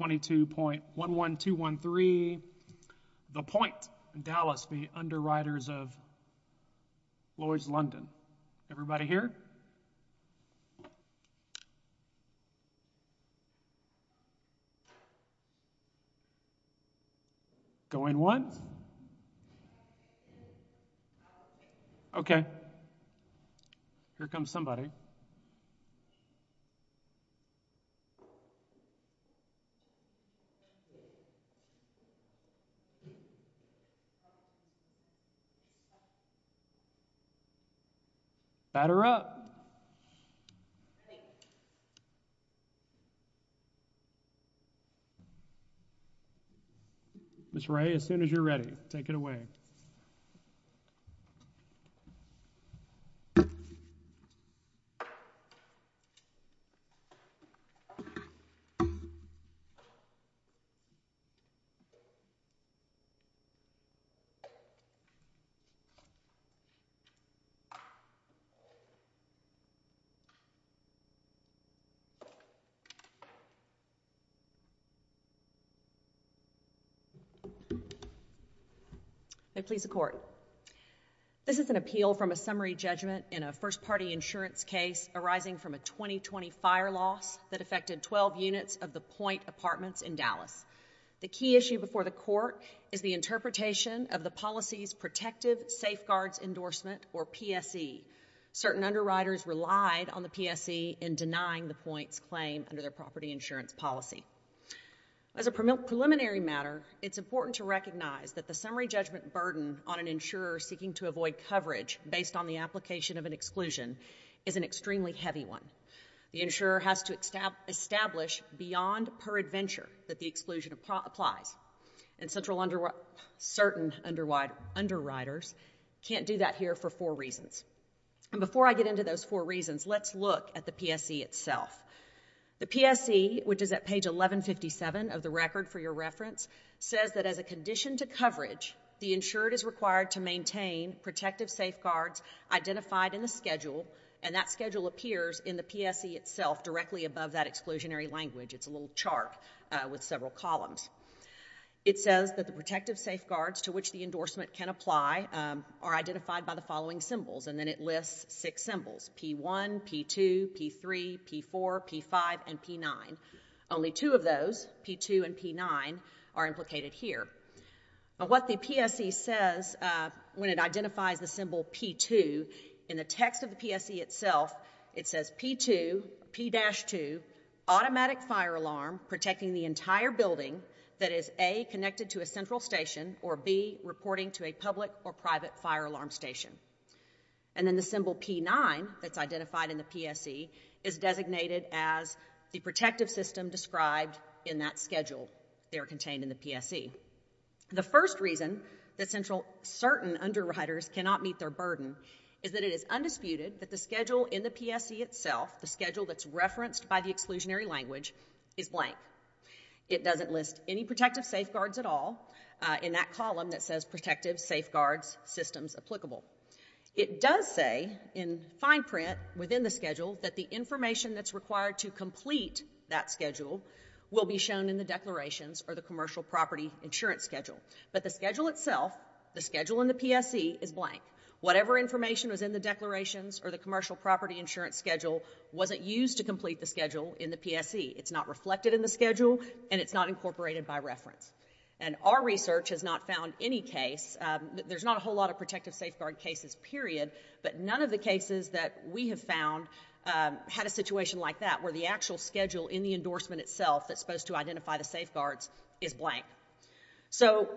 22.11213 The Pointe Dallas v. Underwriters of Lloyds, London. Everybody here? Going once? Okay. Here comes somebody. Batter up. Miss Ray, as soon as you're ready, take it away. May it please the Court. This is an appeal from a summary judgment in a first-party insurance case arising from a 2020 fire loss that affected 12 units of the Pointe apartments in Dallas. The key issue before the Court is the interpretation of the policy's Protective Safeguards Endorsement, or PSE. Certain underwriters relied on the PSE in denying the Pointe's claim under their property insurance policy. As a preliminary matter, it's important to recognize that the summary judgment burden on an insurer seeking to avoid coverage based on the application of an exclusion is an extremely heavy one. The insurer has to establish beyond per adventure that the exclusion applies. And certain underwriters can't do that here for four reasons. And before I get into those four reasons, let's look at the PSE itself. The PSE, which is at page 1157 of the record for your reference, says that as a condition to coverage, the insured is required to maintain protective safeguards identified in the schedule, and that schedule appears in the PSE itself directly above that exclusionary language. It's a little chart with several columns. It says that the protective safeguards to which the endorsement can apply are identified by the following symbols, and then it lists six symbols, P1, P2, P3, P4, P5, and P9. Only two of those, P2 and P9, are implicated here. What the PSE says when it identifies the symbol P2, in the text of the PSE itself, it says P2, P-2, automatic fire alarm protecting the entire building that is A, connected to a central station, or B, reporting to a public or private fire alarm station. And then the symbol P9, that's identified in the PSE, is designated as the protective system described in that schedule. They are contained in the PSE. The first reason that certain underwriters cannot meet their burden is that it is undisputed that the schedule in the PSE itself, the schedule that's referenced by the exclusionary language, is blank. It doesn't list any protective safeguards at all in that column that says protective safeguards systems applicable. It does say in fine print within the schedule that the information that's required to complete that schedule will be shown in the declarations or the commercial property insurance schedule. But the schedule itself, the schedule in the PSE, is blank. Whatever information was in the declarations or the commercial property insurance schedule wasn't used to complete the schedule in the PSE. It's not reflected in the schedule and it's not incorporated by reference. And our research has not found any case, there's not a whole lot of protective safeguard cases, period, but none of the cases that we have found had a situation like that where the actual schedule in the endorsement itself that's supposed to identify the safeguards is blank. So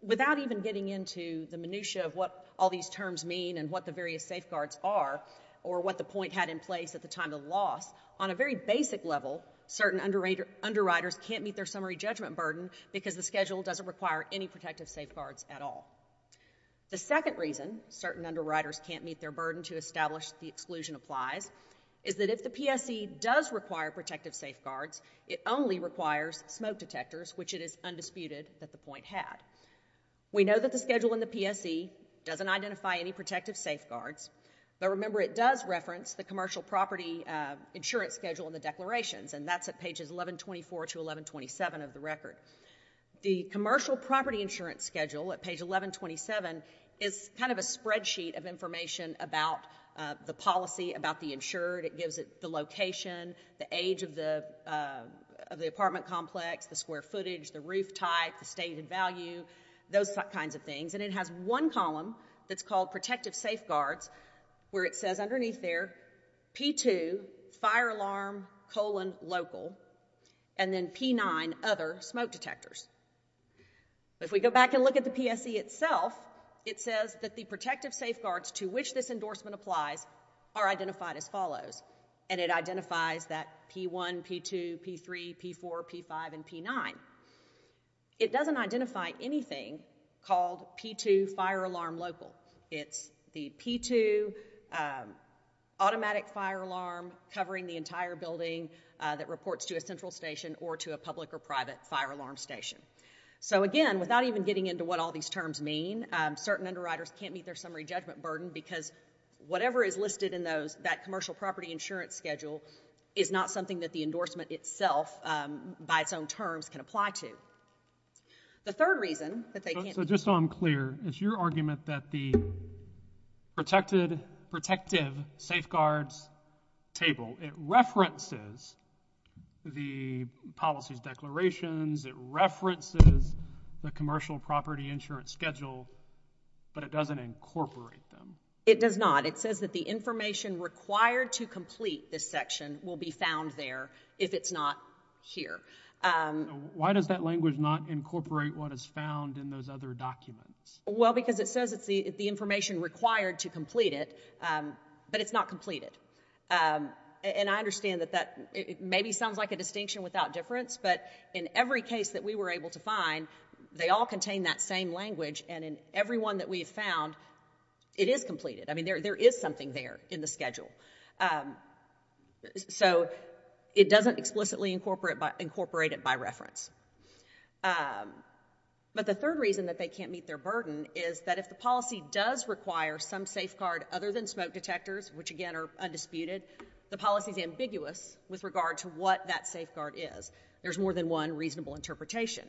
without even getting into the minutia of what all these terms mean and what the various safeguards are or what the point had in place at the time of the loss, on a very basic level, certain underwriters can't meet their summary judgment burden because the schedule doesn't require any protective safeguards at all. The second reason certain underwriters can't meet their burden to establish the exclusion applies is that if the PSE does require protective safeguards, it only requires smoke detectors, which it is undisputed that the point had. We know that the schedule in the PSE doesn't identify any protective safeguards, but remember it does reference the commercial property insurance schedule in the declarations, and that's at pages 1124 to 1127 of the record. The commercial property insurance schedule at page 1127 is kind of a spreadsheet of information about the policy, about the insured. It gives it the location, the age of the apartment complex, the square footage, the roof type, the stated value, those kinds of things. And it has one column that's called protective safeguards, where it says underneath there, P2, fire alarm, colon, local, and then P9, other, smoke detectors. If we go back and look at the PSE itself, it says that the protective safeguards to which this endorsement applies are identified as follows, and it identifies that P1, P2, P3, P4, P5, and P9. It doesn't identify anything called P2, fire alarm, local. It's the P2 automatic fire alarm covering the entire building that reports to a central station or to a public or private fire alarm station. So, again, without even getting into what all these terms mean, certain underwriters can't meet their summary judgment burden because whatever is listed in that commercial property insurance schedule is not something that the endorsement itself, by its own terms, can apply to. So, just so I'm clear, it's your argument that the protective safeguards table, it references the policies declarations, it references the commercial property insurance schedule, but it doesn't incorporate them. It does not. It says that the information required to complete this section will be found there if it's not here. Why does that language not incorporate what is found in those other documents? Well, because it says it's the information required to complete it, but it's not completed. And I understand that that maybe sounds like a distinction without difference, but in every case that we were able to find, they all contain that same language, and in every one that we've found, it is completed. I mean, there is something there in the schedule. So, it doesn't explicitly incorporate it by reference. But the third reason that they can't meet their burden is that if the policy does require some safeguard other than smoke detectors, which, again, are undisputed, the policy is ambiguous with regard to what that safeguard is. There's more than one reasonable interpretation.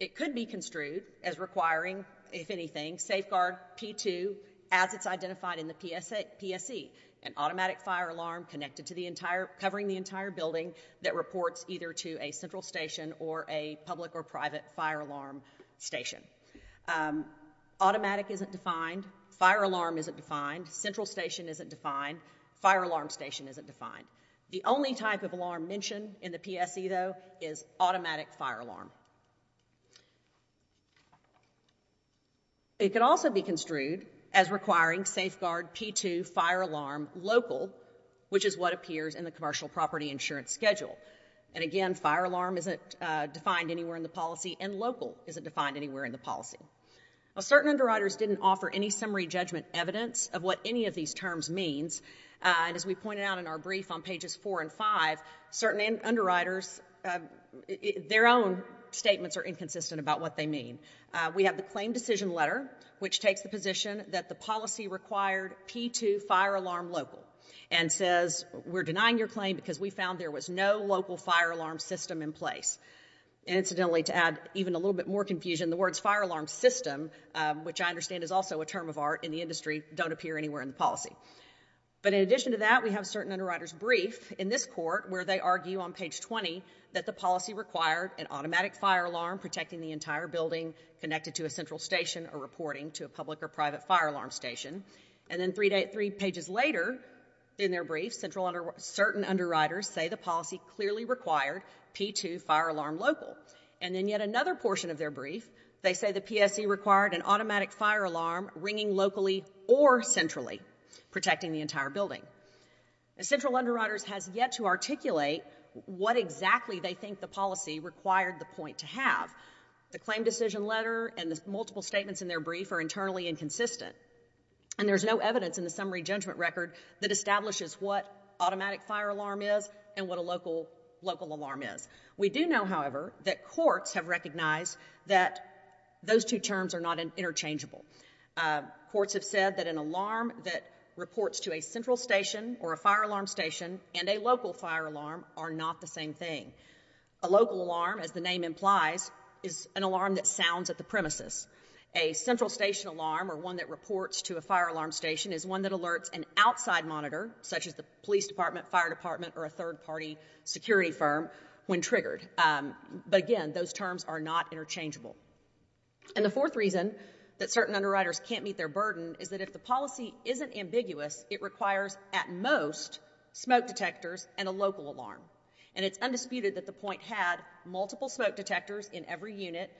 It could be construed as requiring, if anything, safeguard P2 as it's identified in the PSE, an automatic fire alarm covering the entire building that reports either to a central station or a public or private fire alarm station. Automatic isn't defined, fire alarm isn't defined, central station isn't defined, fire alarm station isn't defined. The only type of alarm mentioned in the PSE, though, is automatic fire alarm. It could also be construed as requiring safeguard P2 fire alarm local, which is what appears in the commercial property insurance schedule. And, again, fire alarm isn't defined anywhere in the policy, and local isn't defined anywhere in the policy. Now, certain underwriters didn't offer any summary judgment evidence of what any of these terms means. And as we pointed out in our brief on pages four and five, certain underwriters, their own statements are inconsistent about what they mean. We have the claim decision letter, which takes the position that the policy required P2 fire alarm local, and says we're denying your claim because we found there was no local fire alarm system in place. And, incidentally, to add even a little bit more confusion, the words fire alarm system, which I understand is also a term of art in the industry, don't appear anywhere in the policy. But in addition to that, we have certain underwriters' brief in this court where they argue on page 20 that the policy required an automatic fire alarm protecting the entire building connected to a central station or reporting to a public or private fire alarm station. And then three pages later in their brief, certain underwriters say the policy clearly required P2 fire alarm local. And then yet another portion of their brief, they say the PSC required an automatic fire alarm ringing locally or centrally protecting the entire building. Central Underwriters has yet to articulate what exactly they think the policy required the point to have. The claim decision letter and the multiple statements in their brief are internally inconsistent. And there's no evidence in the summary judgment record that establishes what automatic fire alarm is and what a local alarm is. We do know, however, that courts have recognized that those two terms are not interchangeable. Courts have said that an alarm that reports to a central station or a fire alarm station and a local fire alarm are not the same thing. A local alarm, as the name implies, is an alarm that sounds at the premises. A central station alarm or one that reports to a fire alarm station is one that alerts an outside monitor, such as the police department, fire department, or a third-party security firm when triggered. But again, those terms are not interchangeable. And the fourth reason that certain underwriters can't meet their burden is that if the policy isn't ambiguous, it requires at most smoke detectors and a local alarm. And it's undisputed that the point had multiple smoke detectors in every unit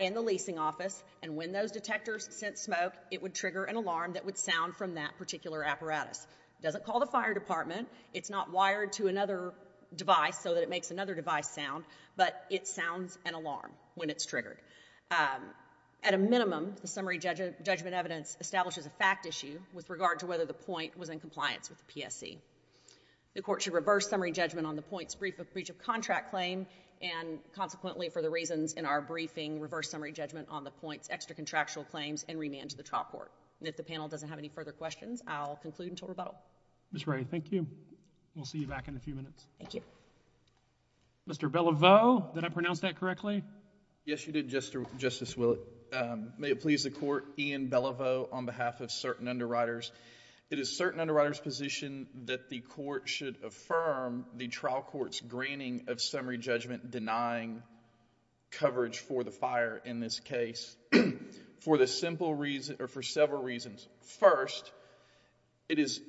in the leasing office. And when those detectors sent smoke, it would trigger an alarm that would sound from that particular apparatus. It doesn't call the fire department. It's not wired to another device so that it makes another device sound. But it sounds an alarm when it's triggered. At a minimum, the summary judgment evidence establishes a fact issue with regard to whether the point was in compliance with the PSC. The court should reverse summary judgment on the point's brief of breach of contract claim. And consequently, for the reasons in our briefing, reverse summary judgment on the point's extra contractual claims and remand to the trial court. And if the panel doesn't have any further questions, I'll conclude until rebuttal. Ms. Wright, thank you. We'll see you back in a few minutes. Thank you. Mr. Belliveau, did I pronounce that correctly? Yes, you did, Justice Willett. May it please the court, Ian Belliveau on behalf of certain underwriters. It is certain underwriters' position that the court should affirm the trial court's granting of summary judgment denying coverage for the fire in this case for several reasons. First, it is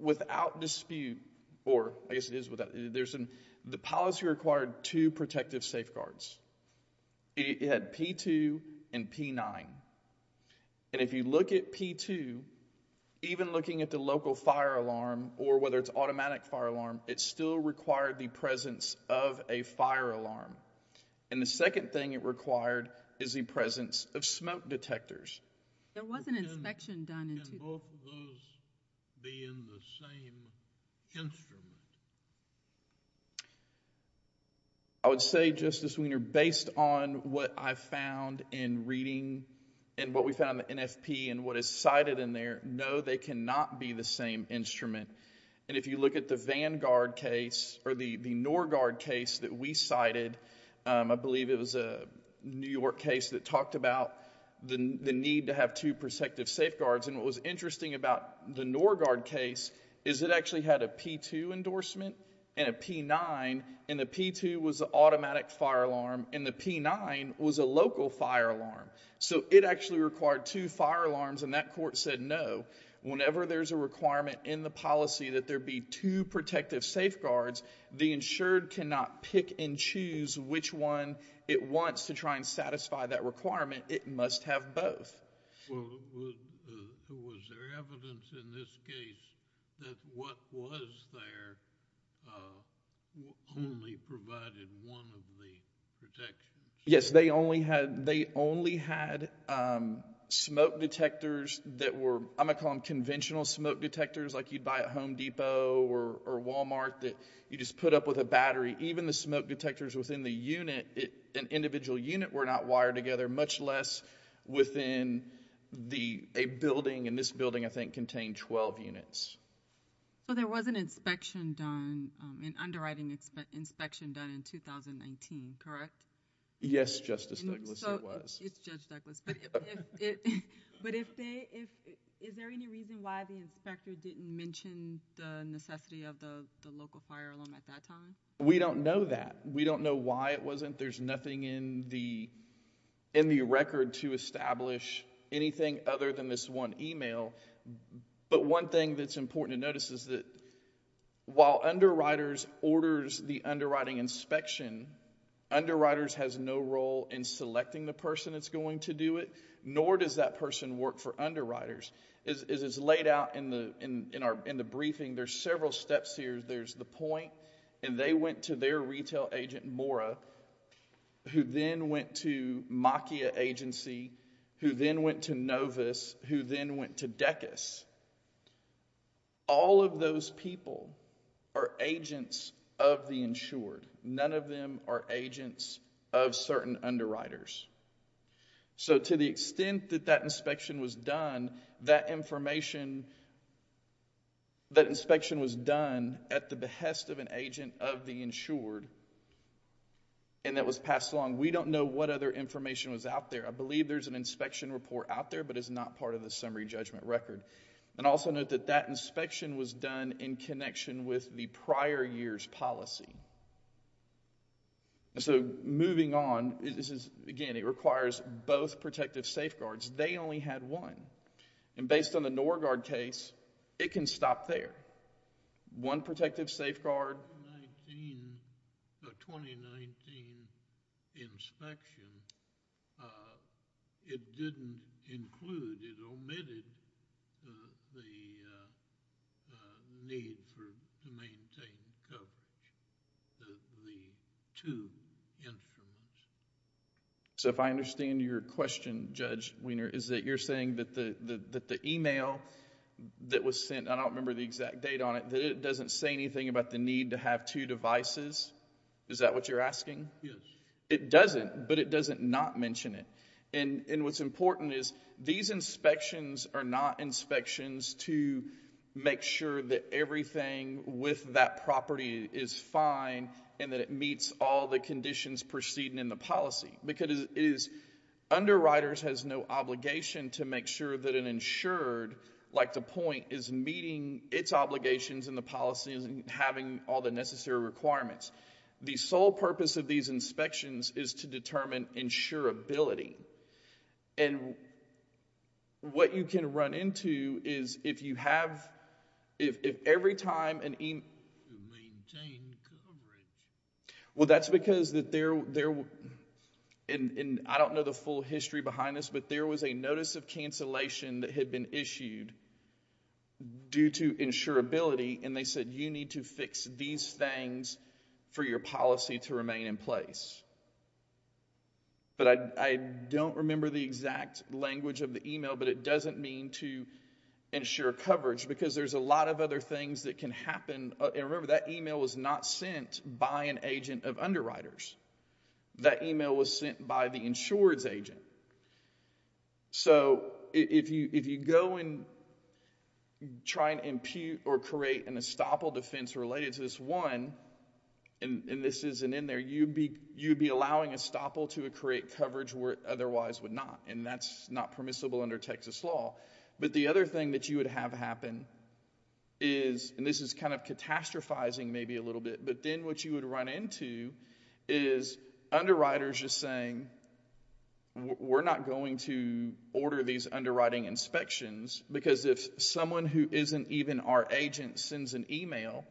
without dispute, or I guess it is without, the policy required two protective safeguards. It had P2 and P9. And if you look at P2, even looking at the local fire alarm, or whether it's automatic fire alarm, it still required the presence of a fire alarm. And the second thing it required is the presence of smoke detectors. There was an inspection done in two cases. Can both of those be in the same instrument? I would say, Justice Wiener, based on what I found in reading and what we found in the NFP and what is cited in there, no, they cannot be the same instrument. And if you look at the Vanguard case, or the NorGuard case that we cited, I believe it was a New York case that talked about the need to have two and a P9, and the P2 was the automatic fire alarm, and the P9 was a local fire alarm. So it actually required two fire alarms, and that court said no. Whenever there's a requirement in the policy that there be two protective safeguards, the insured cannot pick and choose which one it wants to try and satisfy that requirement. It must have both. Well, was there evidence in this case that what was there only provided one of the protections? Yes, they only had smoke detectors that were, I'm going to call them conventional smoke detectors like you'd buy at Home Depot or Walmart that you just put up with a battery. Even the smoke detectors within the unit, an individual unit, were not wired together, much less within a building, and this building, I think, contained 12 units. So there was an inspection done, an underwriting inspection done in 2019, correct? Yes, Justice Douglas, there was. It's Judge Douglas, but is there any reason why the inspector didn't mention the necessity of the local fire alarm at that time? We don't know that. We don't know why it wasn't. There's nothing in the record to establish anything other than this one email. But one thing that's important to notice is that while underwriters orders the underwriting inspection, underwriters has no role in selecting the person that's going to do it, nor does that person work for underwriters. As is laid out in the briefing, there's several steps here. There's the point, and they went to their retail agent, Mora, who then went to Makia Agency, who then went to Novus, who then went to DECUS. All of those people are agents of the insured. None of them are agents of certain underwriters. So to the extent that that inspection was done, that information, that inspection was done at the behest of an agent of the insured, and that was passed along. We don't know what other information was out there. I believe there's an inspection report out there, but it's not part of the summary judgment record. And also note that that inspection was done in connection with the prior year's policy. So moving on, this is, again, it requires both protective safeguards. They only had one. And based on the Norgard case, it can stop there. One protective safeguard. The 2019 inspection, it didn't include, it omitted the need to maintain coverage of the two instruments. So if I understand your question, Judge Wiener, is that you're saying that the email that was sent, I don't remember the exact date on it, that it doesn't say anything about the need to have two devices? Is that what you're asking? Yes. It doesn't, but it doesn't not mention it. And what's important is these inspections are not inspections to make sure that everything with that property is fine and that it meets all the conditions preceding in the policy. Because it is, underwriters has no obligation to make sure that an insured, like the point, is meeting its obligations in the policy and having all the necessary requirements. The sole purpose of these inspections is to determine insurability. And what you can run into is if you have, if every time an email, well, that's because there, and I don't know the full history behind this, but there was a notice of cancellation that had been issued due to insurability. And they said, you need to fix these things for your policy to remain in place. But I don't remember the exact language of the email, but it doesn't mean to ensure coverage, because there's a lot of other things that can happen. And remember, that email was not sent by an agent of underwriters. That email was sent by the insured's agent. So if you go and try to impute or create an estoppel defense related to this one, and this isn't in there, you'd be allowing estoppel to create coverage where it otherwise would not. And that's not permissible under Texas law. But the other thing that you would have happen is, and this is kind of catastrophizing maybe a little bit, but then what you would run into is underwriters just saying, we're not going to order these underwriting inspections. Because if someone who isn't even our agent sends an email,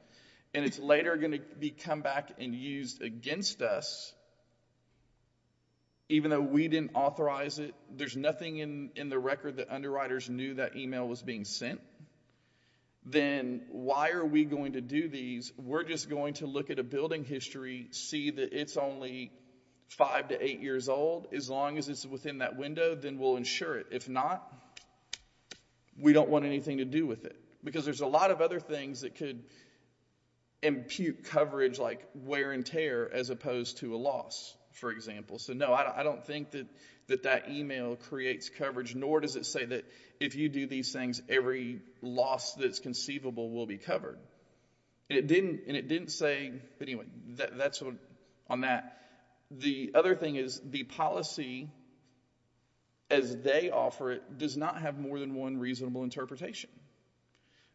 and it's later going to be come back and used against us, even though we didn't authorize it, there's nothing in the record that underwriters knew that email was being sent, then why are we going to do these? We're just going to look at a building history, see that it's only five to eight years old, as long as it's within that window, then we'll insure it. If not, we don't want anything to do with it. Because there's a lot of other things that could impute coverage, like wear and tear, as opposed to a loss, for example. So no, I don't think that that email creates coverage, nor does it say that if you do these things, every loss that's conceivable will be covered. And it didn't say, anyway, that's on that. The other thing is the policy, as they offer it, does not have more than one reasonable interpretation.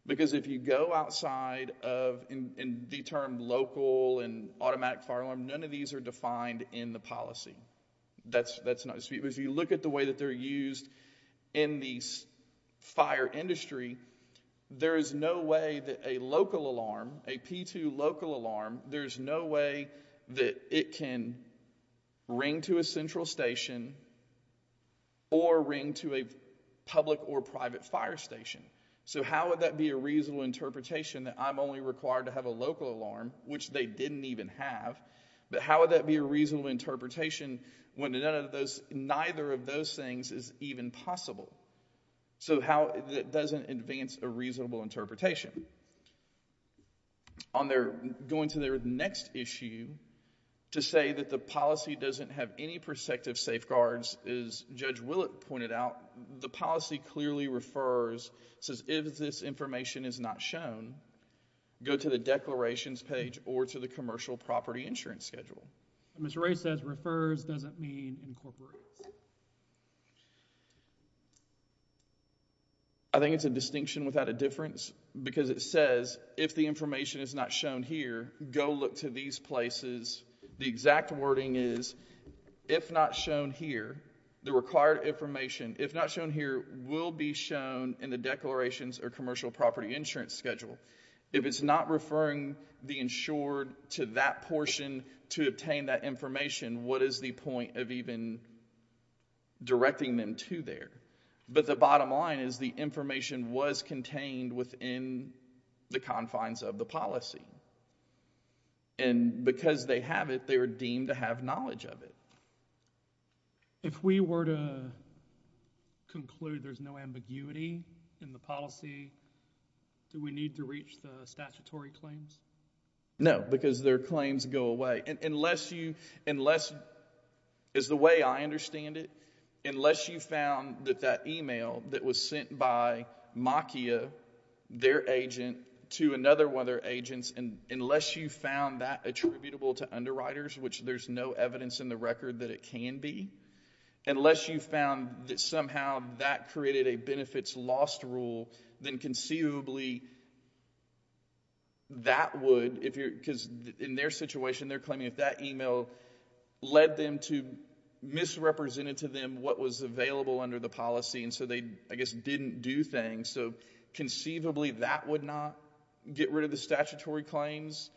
Because if you go outside of the term local and automatic fire alarm, none of these are defined in the policy. If you look at the way that they're used in the fire industry, there is no way that a local alarm, a P2 local alarm, there's no way that it can ring to a central station or ring to a public or private fire station. So how would that be a reasonable interpretation that I'm only required to have a local alarm, which they didn't even have? But how would that be a reasonable interpretation when none of those, neither of those things is even possible? So how, that doesn't advance a reasonable interpretation. On their, going to their next issue, to say that the policy doesn't have any perspective safeguards, as Judge Willett pointed out, the policy clearly refers, says if this information is not shown, go to the declarations page or to the commercial property insurance schedule. Mr. Ray says refers doesn't mean incorporates. I think it's a distinction without a difference, because it says if the information is not shown here, go look to these places. The exact wording is, if not shown here, the required information, if not shown here, will be shown in the declarations or commercial property insurance schedule. If it's not referring the insured to that portion to obtain that information, what is the point of even directing them to there? But the bottom line is the information was contained within the confines of the policy. And because they have it, they were deemed to have knowledge of it. If we were to conclude there's no ambiguity in the policy, do we need to reach the statutory claims? No, because their claims go away. Unless you, as the way I understand it, unless you found that that email that was sent by Makia, their agent, to another one of their agents, unless you found that attributable to underwriters, which there's no evidence in the record that it can be, unless you found that somehow that created a benefits lost rule, then conceivably that would, because in their situation, they're claiming if that email led them to, misrepresented to them what was available under the policy, and so they, I guess, didn't do things, so conceivably that would not get rid of the statutory claims.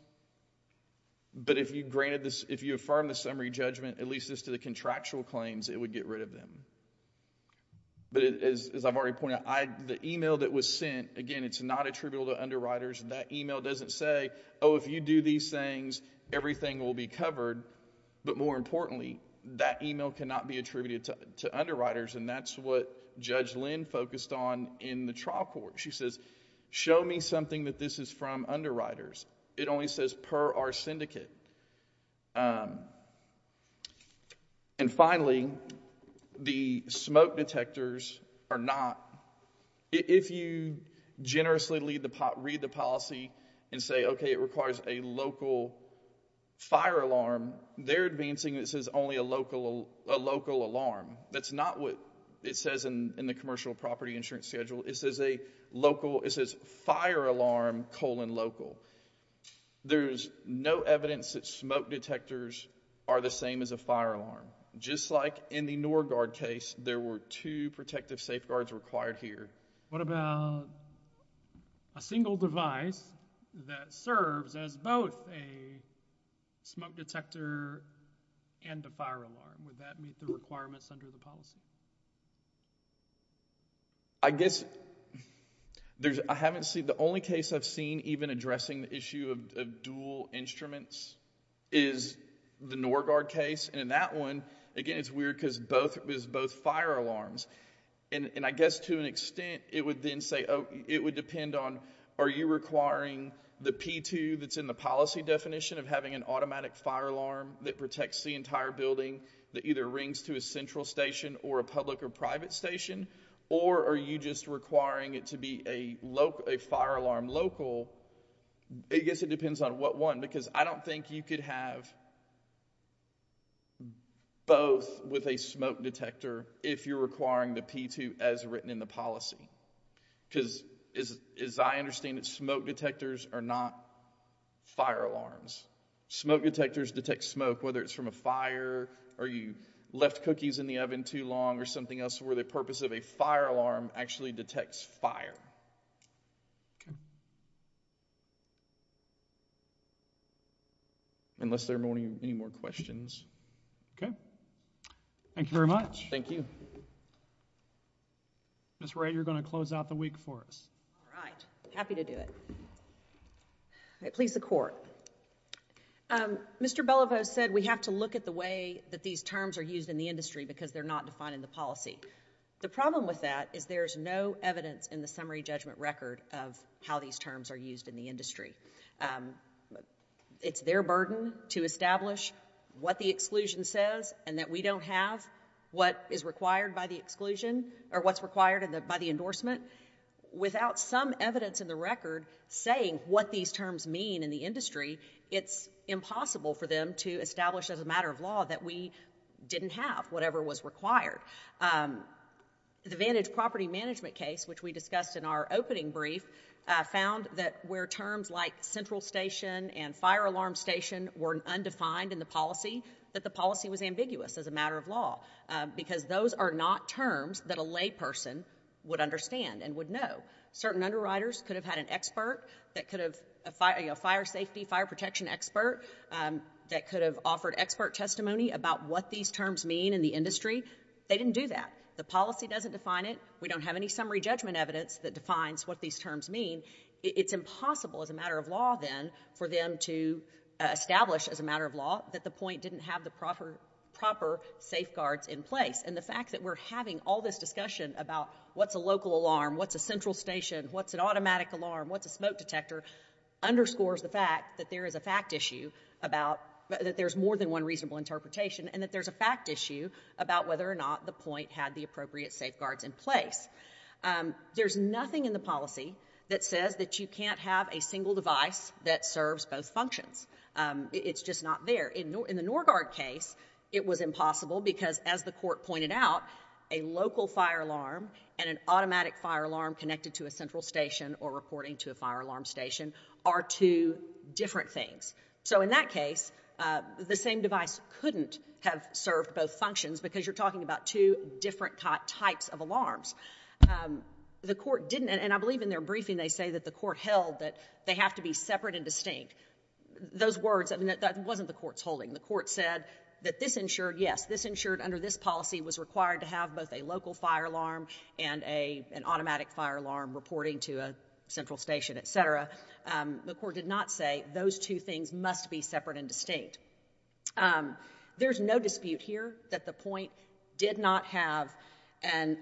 But if you granted this, if you affirm the summary judgment, at least as to the contractual claims, it would get rid of them. But as I've already pointed out, the email that was sent, again, it's not attributable to underwriters. That email doesn't say, oh, if you do these things, everything will be covered. But more importantly, that email cannot be attributed to underwriters, and that's what Judge Lynn focused on in the trial court. She says, show me something that this is from underwriters. It only says per our syndicate. And finally, the smoke detectors are not, if you generously read the policy and say, okay, it requires a local fire alarm, they're advancing this as only a local alarm. That's not what it says in the commercial property insurance schedule. It says a local, it says fire alarm colon local. There's no evidence that smoke detectors are the same as a fire alarm. Just like in the NorGuard case, there were two protective safeguards required here. What about a single device that serves as both a smoke detector and a fire alarm? Would that meet the requirements under the policy? I guess, I haven't seen, the only case I've seen even addressing the issue of dual instruments is the NorGuard case. And in that one, again, it's weird because it's both fire alarms. And I guess to an extent, it would then say, oh, it would depend on, are you requiring the P2 that's in the policy definition of having an automatic fire alarm that protects the entire building that either rings to a central station or a public or private station? Or are you just requiring it to be a fire alarm local? I guess it depends on what one because I don't think you could have both with a smoke detector if you're requiring the P2 as written in the policy. Because as I understand it, smoke detectors are not fire alarms. Smoke detectors detect smoke, whether it's from a fire or you left cookies in the oven too long or something else where the purpose of a fire alarm actually detects fire. Unless there are any more questions. Thank you very much. Thank you. Ms. Wright, you're going to close out the week for us. All right. Happy to do it. All right. Please, the Court. Mr. Beliveau said we have to look at the way that these terms are used in the industry because they're not defined in the policy. The problem with that is there's no evidence in the summary judgment record of how these terms are used in the industry. It's their burden to establish what the exclusion says and that we don't have what is required by the exclusion or what's required by the endorsement. Without some evidence in the record saying what these terms mean in the industry, it's impossible for them to establish as a matter of law that we didn't have whatever was required. The Vantage Property Management case, which we discussed in our opening brief, found that where terms like central station and fire alarm station were undefined in the policy, that the policy was ambiguous as a matter of law because those are not terms that a layperson would understand and would know. Certain underwriters could have had an expert, a fire safety, fire protection expert, that could have offered expert testimony about what these terms mean in the industry. They didn't do that. The policy doesn't define it. We don't have any summary judgment evidence that defines what these terms mean. It's impossible as a matter of law then for them to establish as a matter of law that the point didn't have the proper safeguards in place. And the fact that we're having all this discussion about what's a local alarm, what's a central station, what's an automatic alarm, what's a smoke detector, underscores the fact that there is a fact issue about that there's more than one reasonable interpretation and that there's a fact issue about whether or not the point had the appropriate safeguards in place. There's nothing in the policy that says that you can't have a single device that serves both functions. It's just not there. In the Norgard case, it was impossible because, as the court pointed out, a local fire alarm and an automatic fire alarm connected to a central station or reporting to a fire alarm station are two different things. So in that case, the same device couldn't have served both functions because you're talking about two different types of alarms. The court didn't, and I believe in their briefing they say that the court held that they have to be separate and distinct. Those words, I mean, that wasn't the court's holding. The court said that this ensured, yes, this ensured under this policy was required to have both a local fire alarm and an automatic fire alarm reporting to a central station, et cetera. The court did not say those two things must be separate and distinct. There's no dispute here that the point did not have an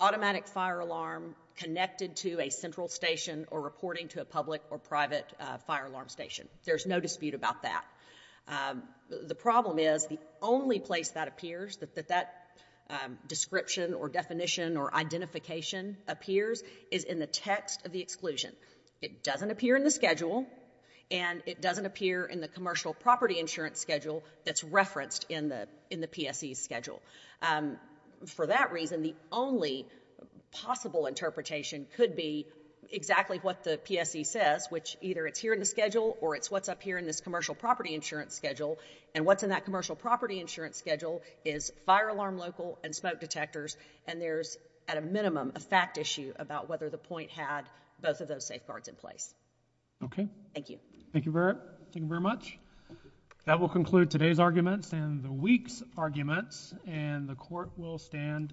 automatic fire alarm connected to a central station or reporting to a public or private fire alarm station. There's no dispute about that. The problem is the only place that appears, that that description or definition or identification appears, is in the text of the exclusion. It doesn't appear in the schedule, and it doesn't appear in the commercial property insurance schedule that's referenced in the PSE schedule. For that reason, the only possible interpretation could be exactly what the PSE says, which either it's here in the schedule or it's what's up here in this commercial property insurance schedule, and what's in that commercial property insurance schedule is fire alarm local and smoke detectors, and there's, at a minimum, a fact issue about whether the point had both of those safeguards in place. Okay. Thank you. Thank you very much. That will conclude today's arguments and the week's arguments, and the court will stand adjourned.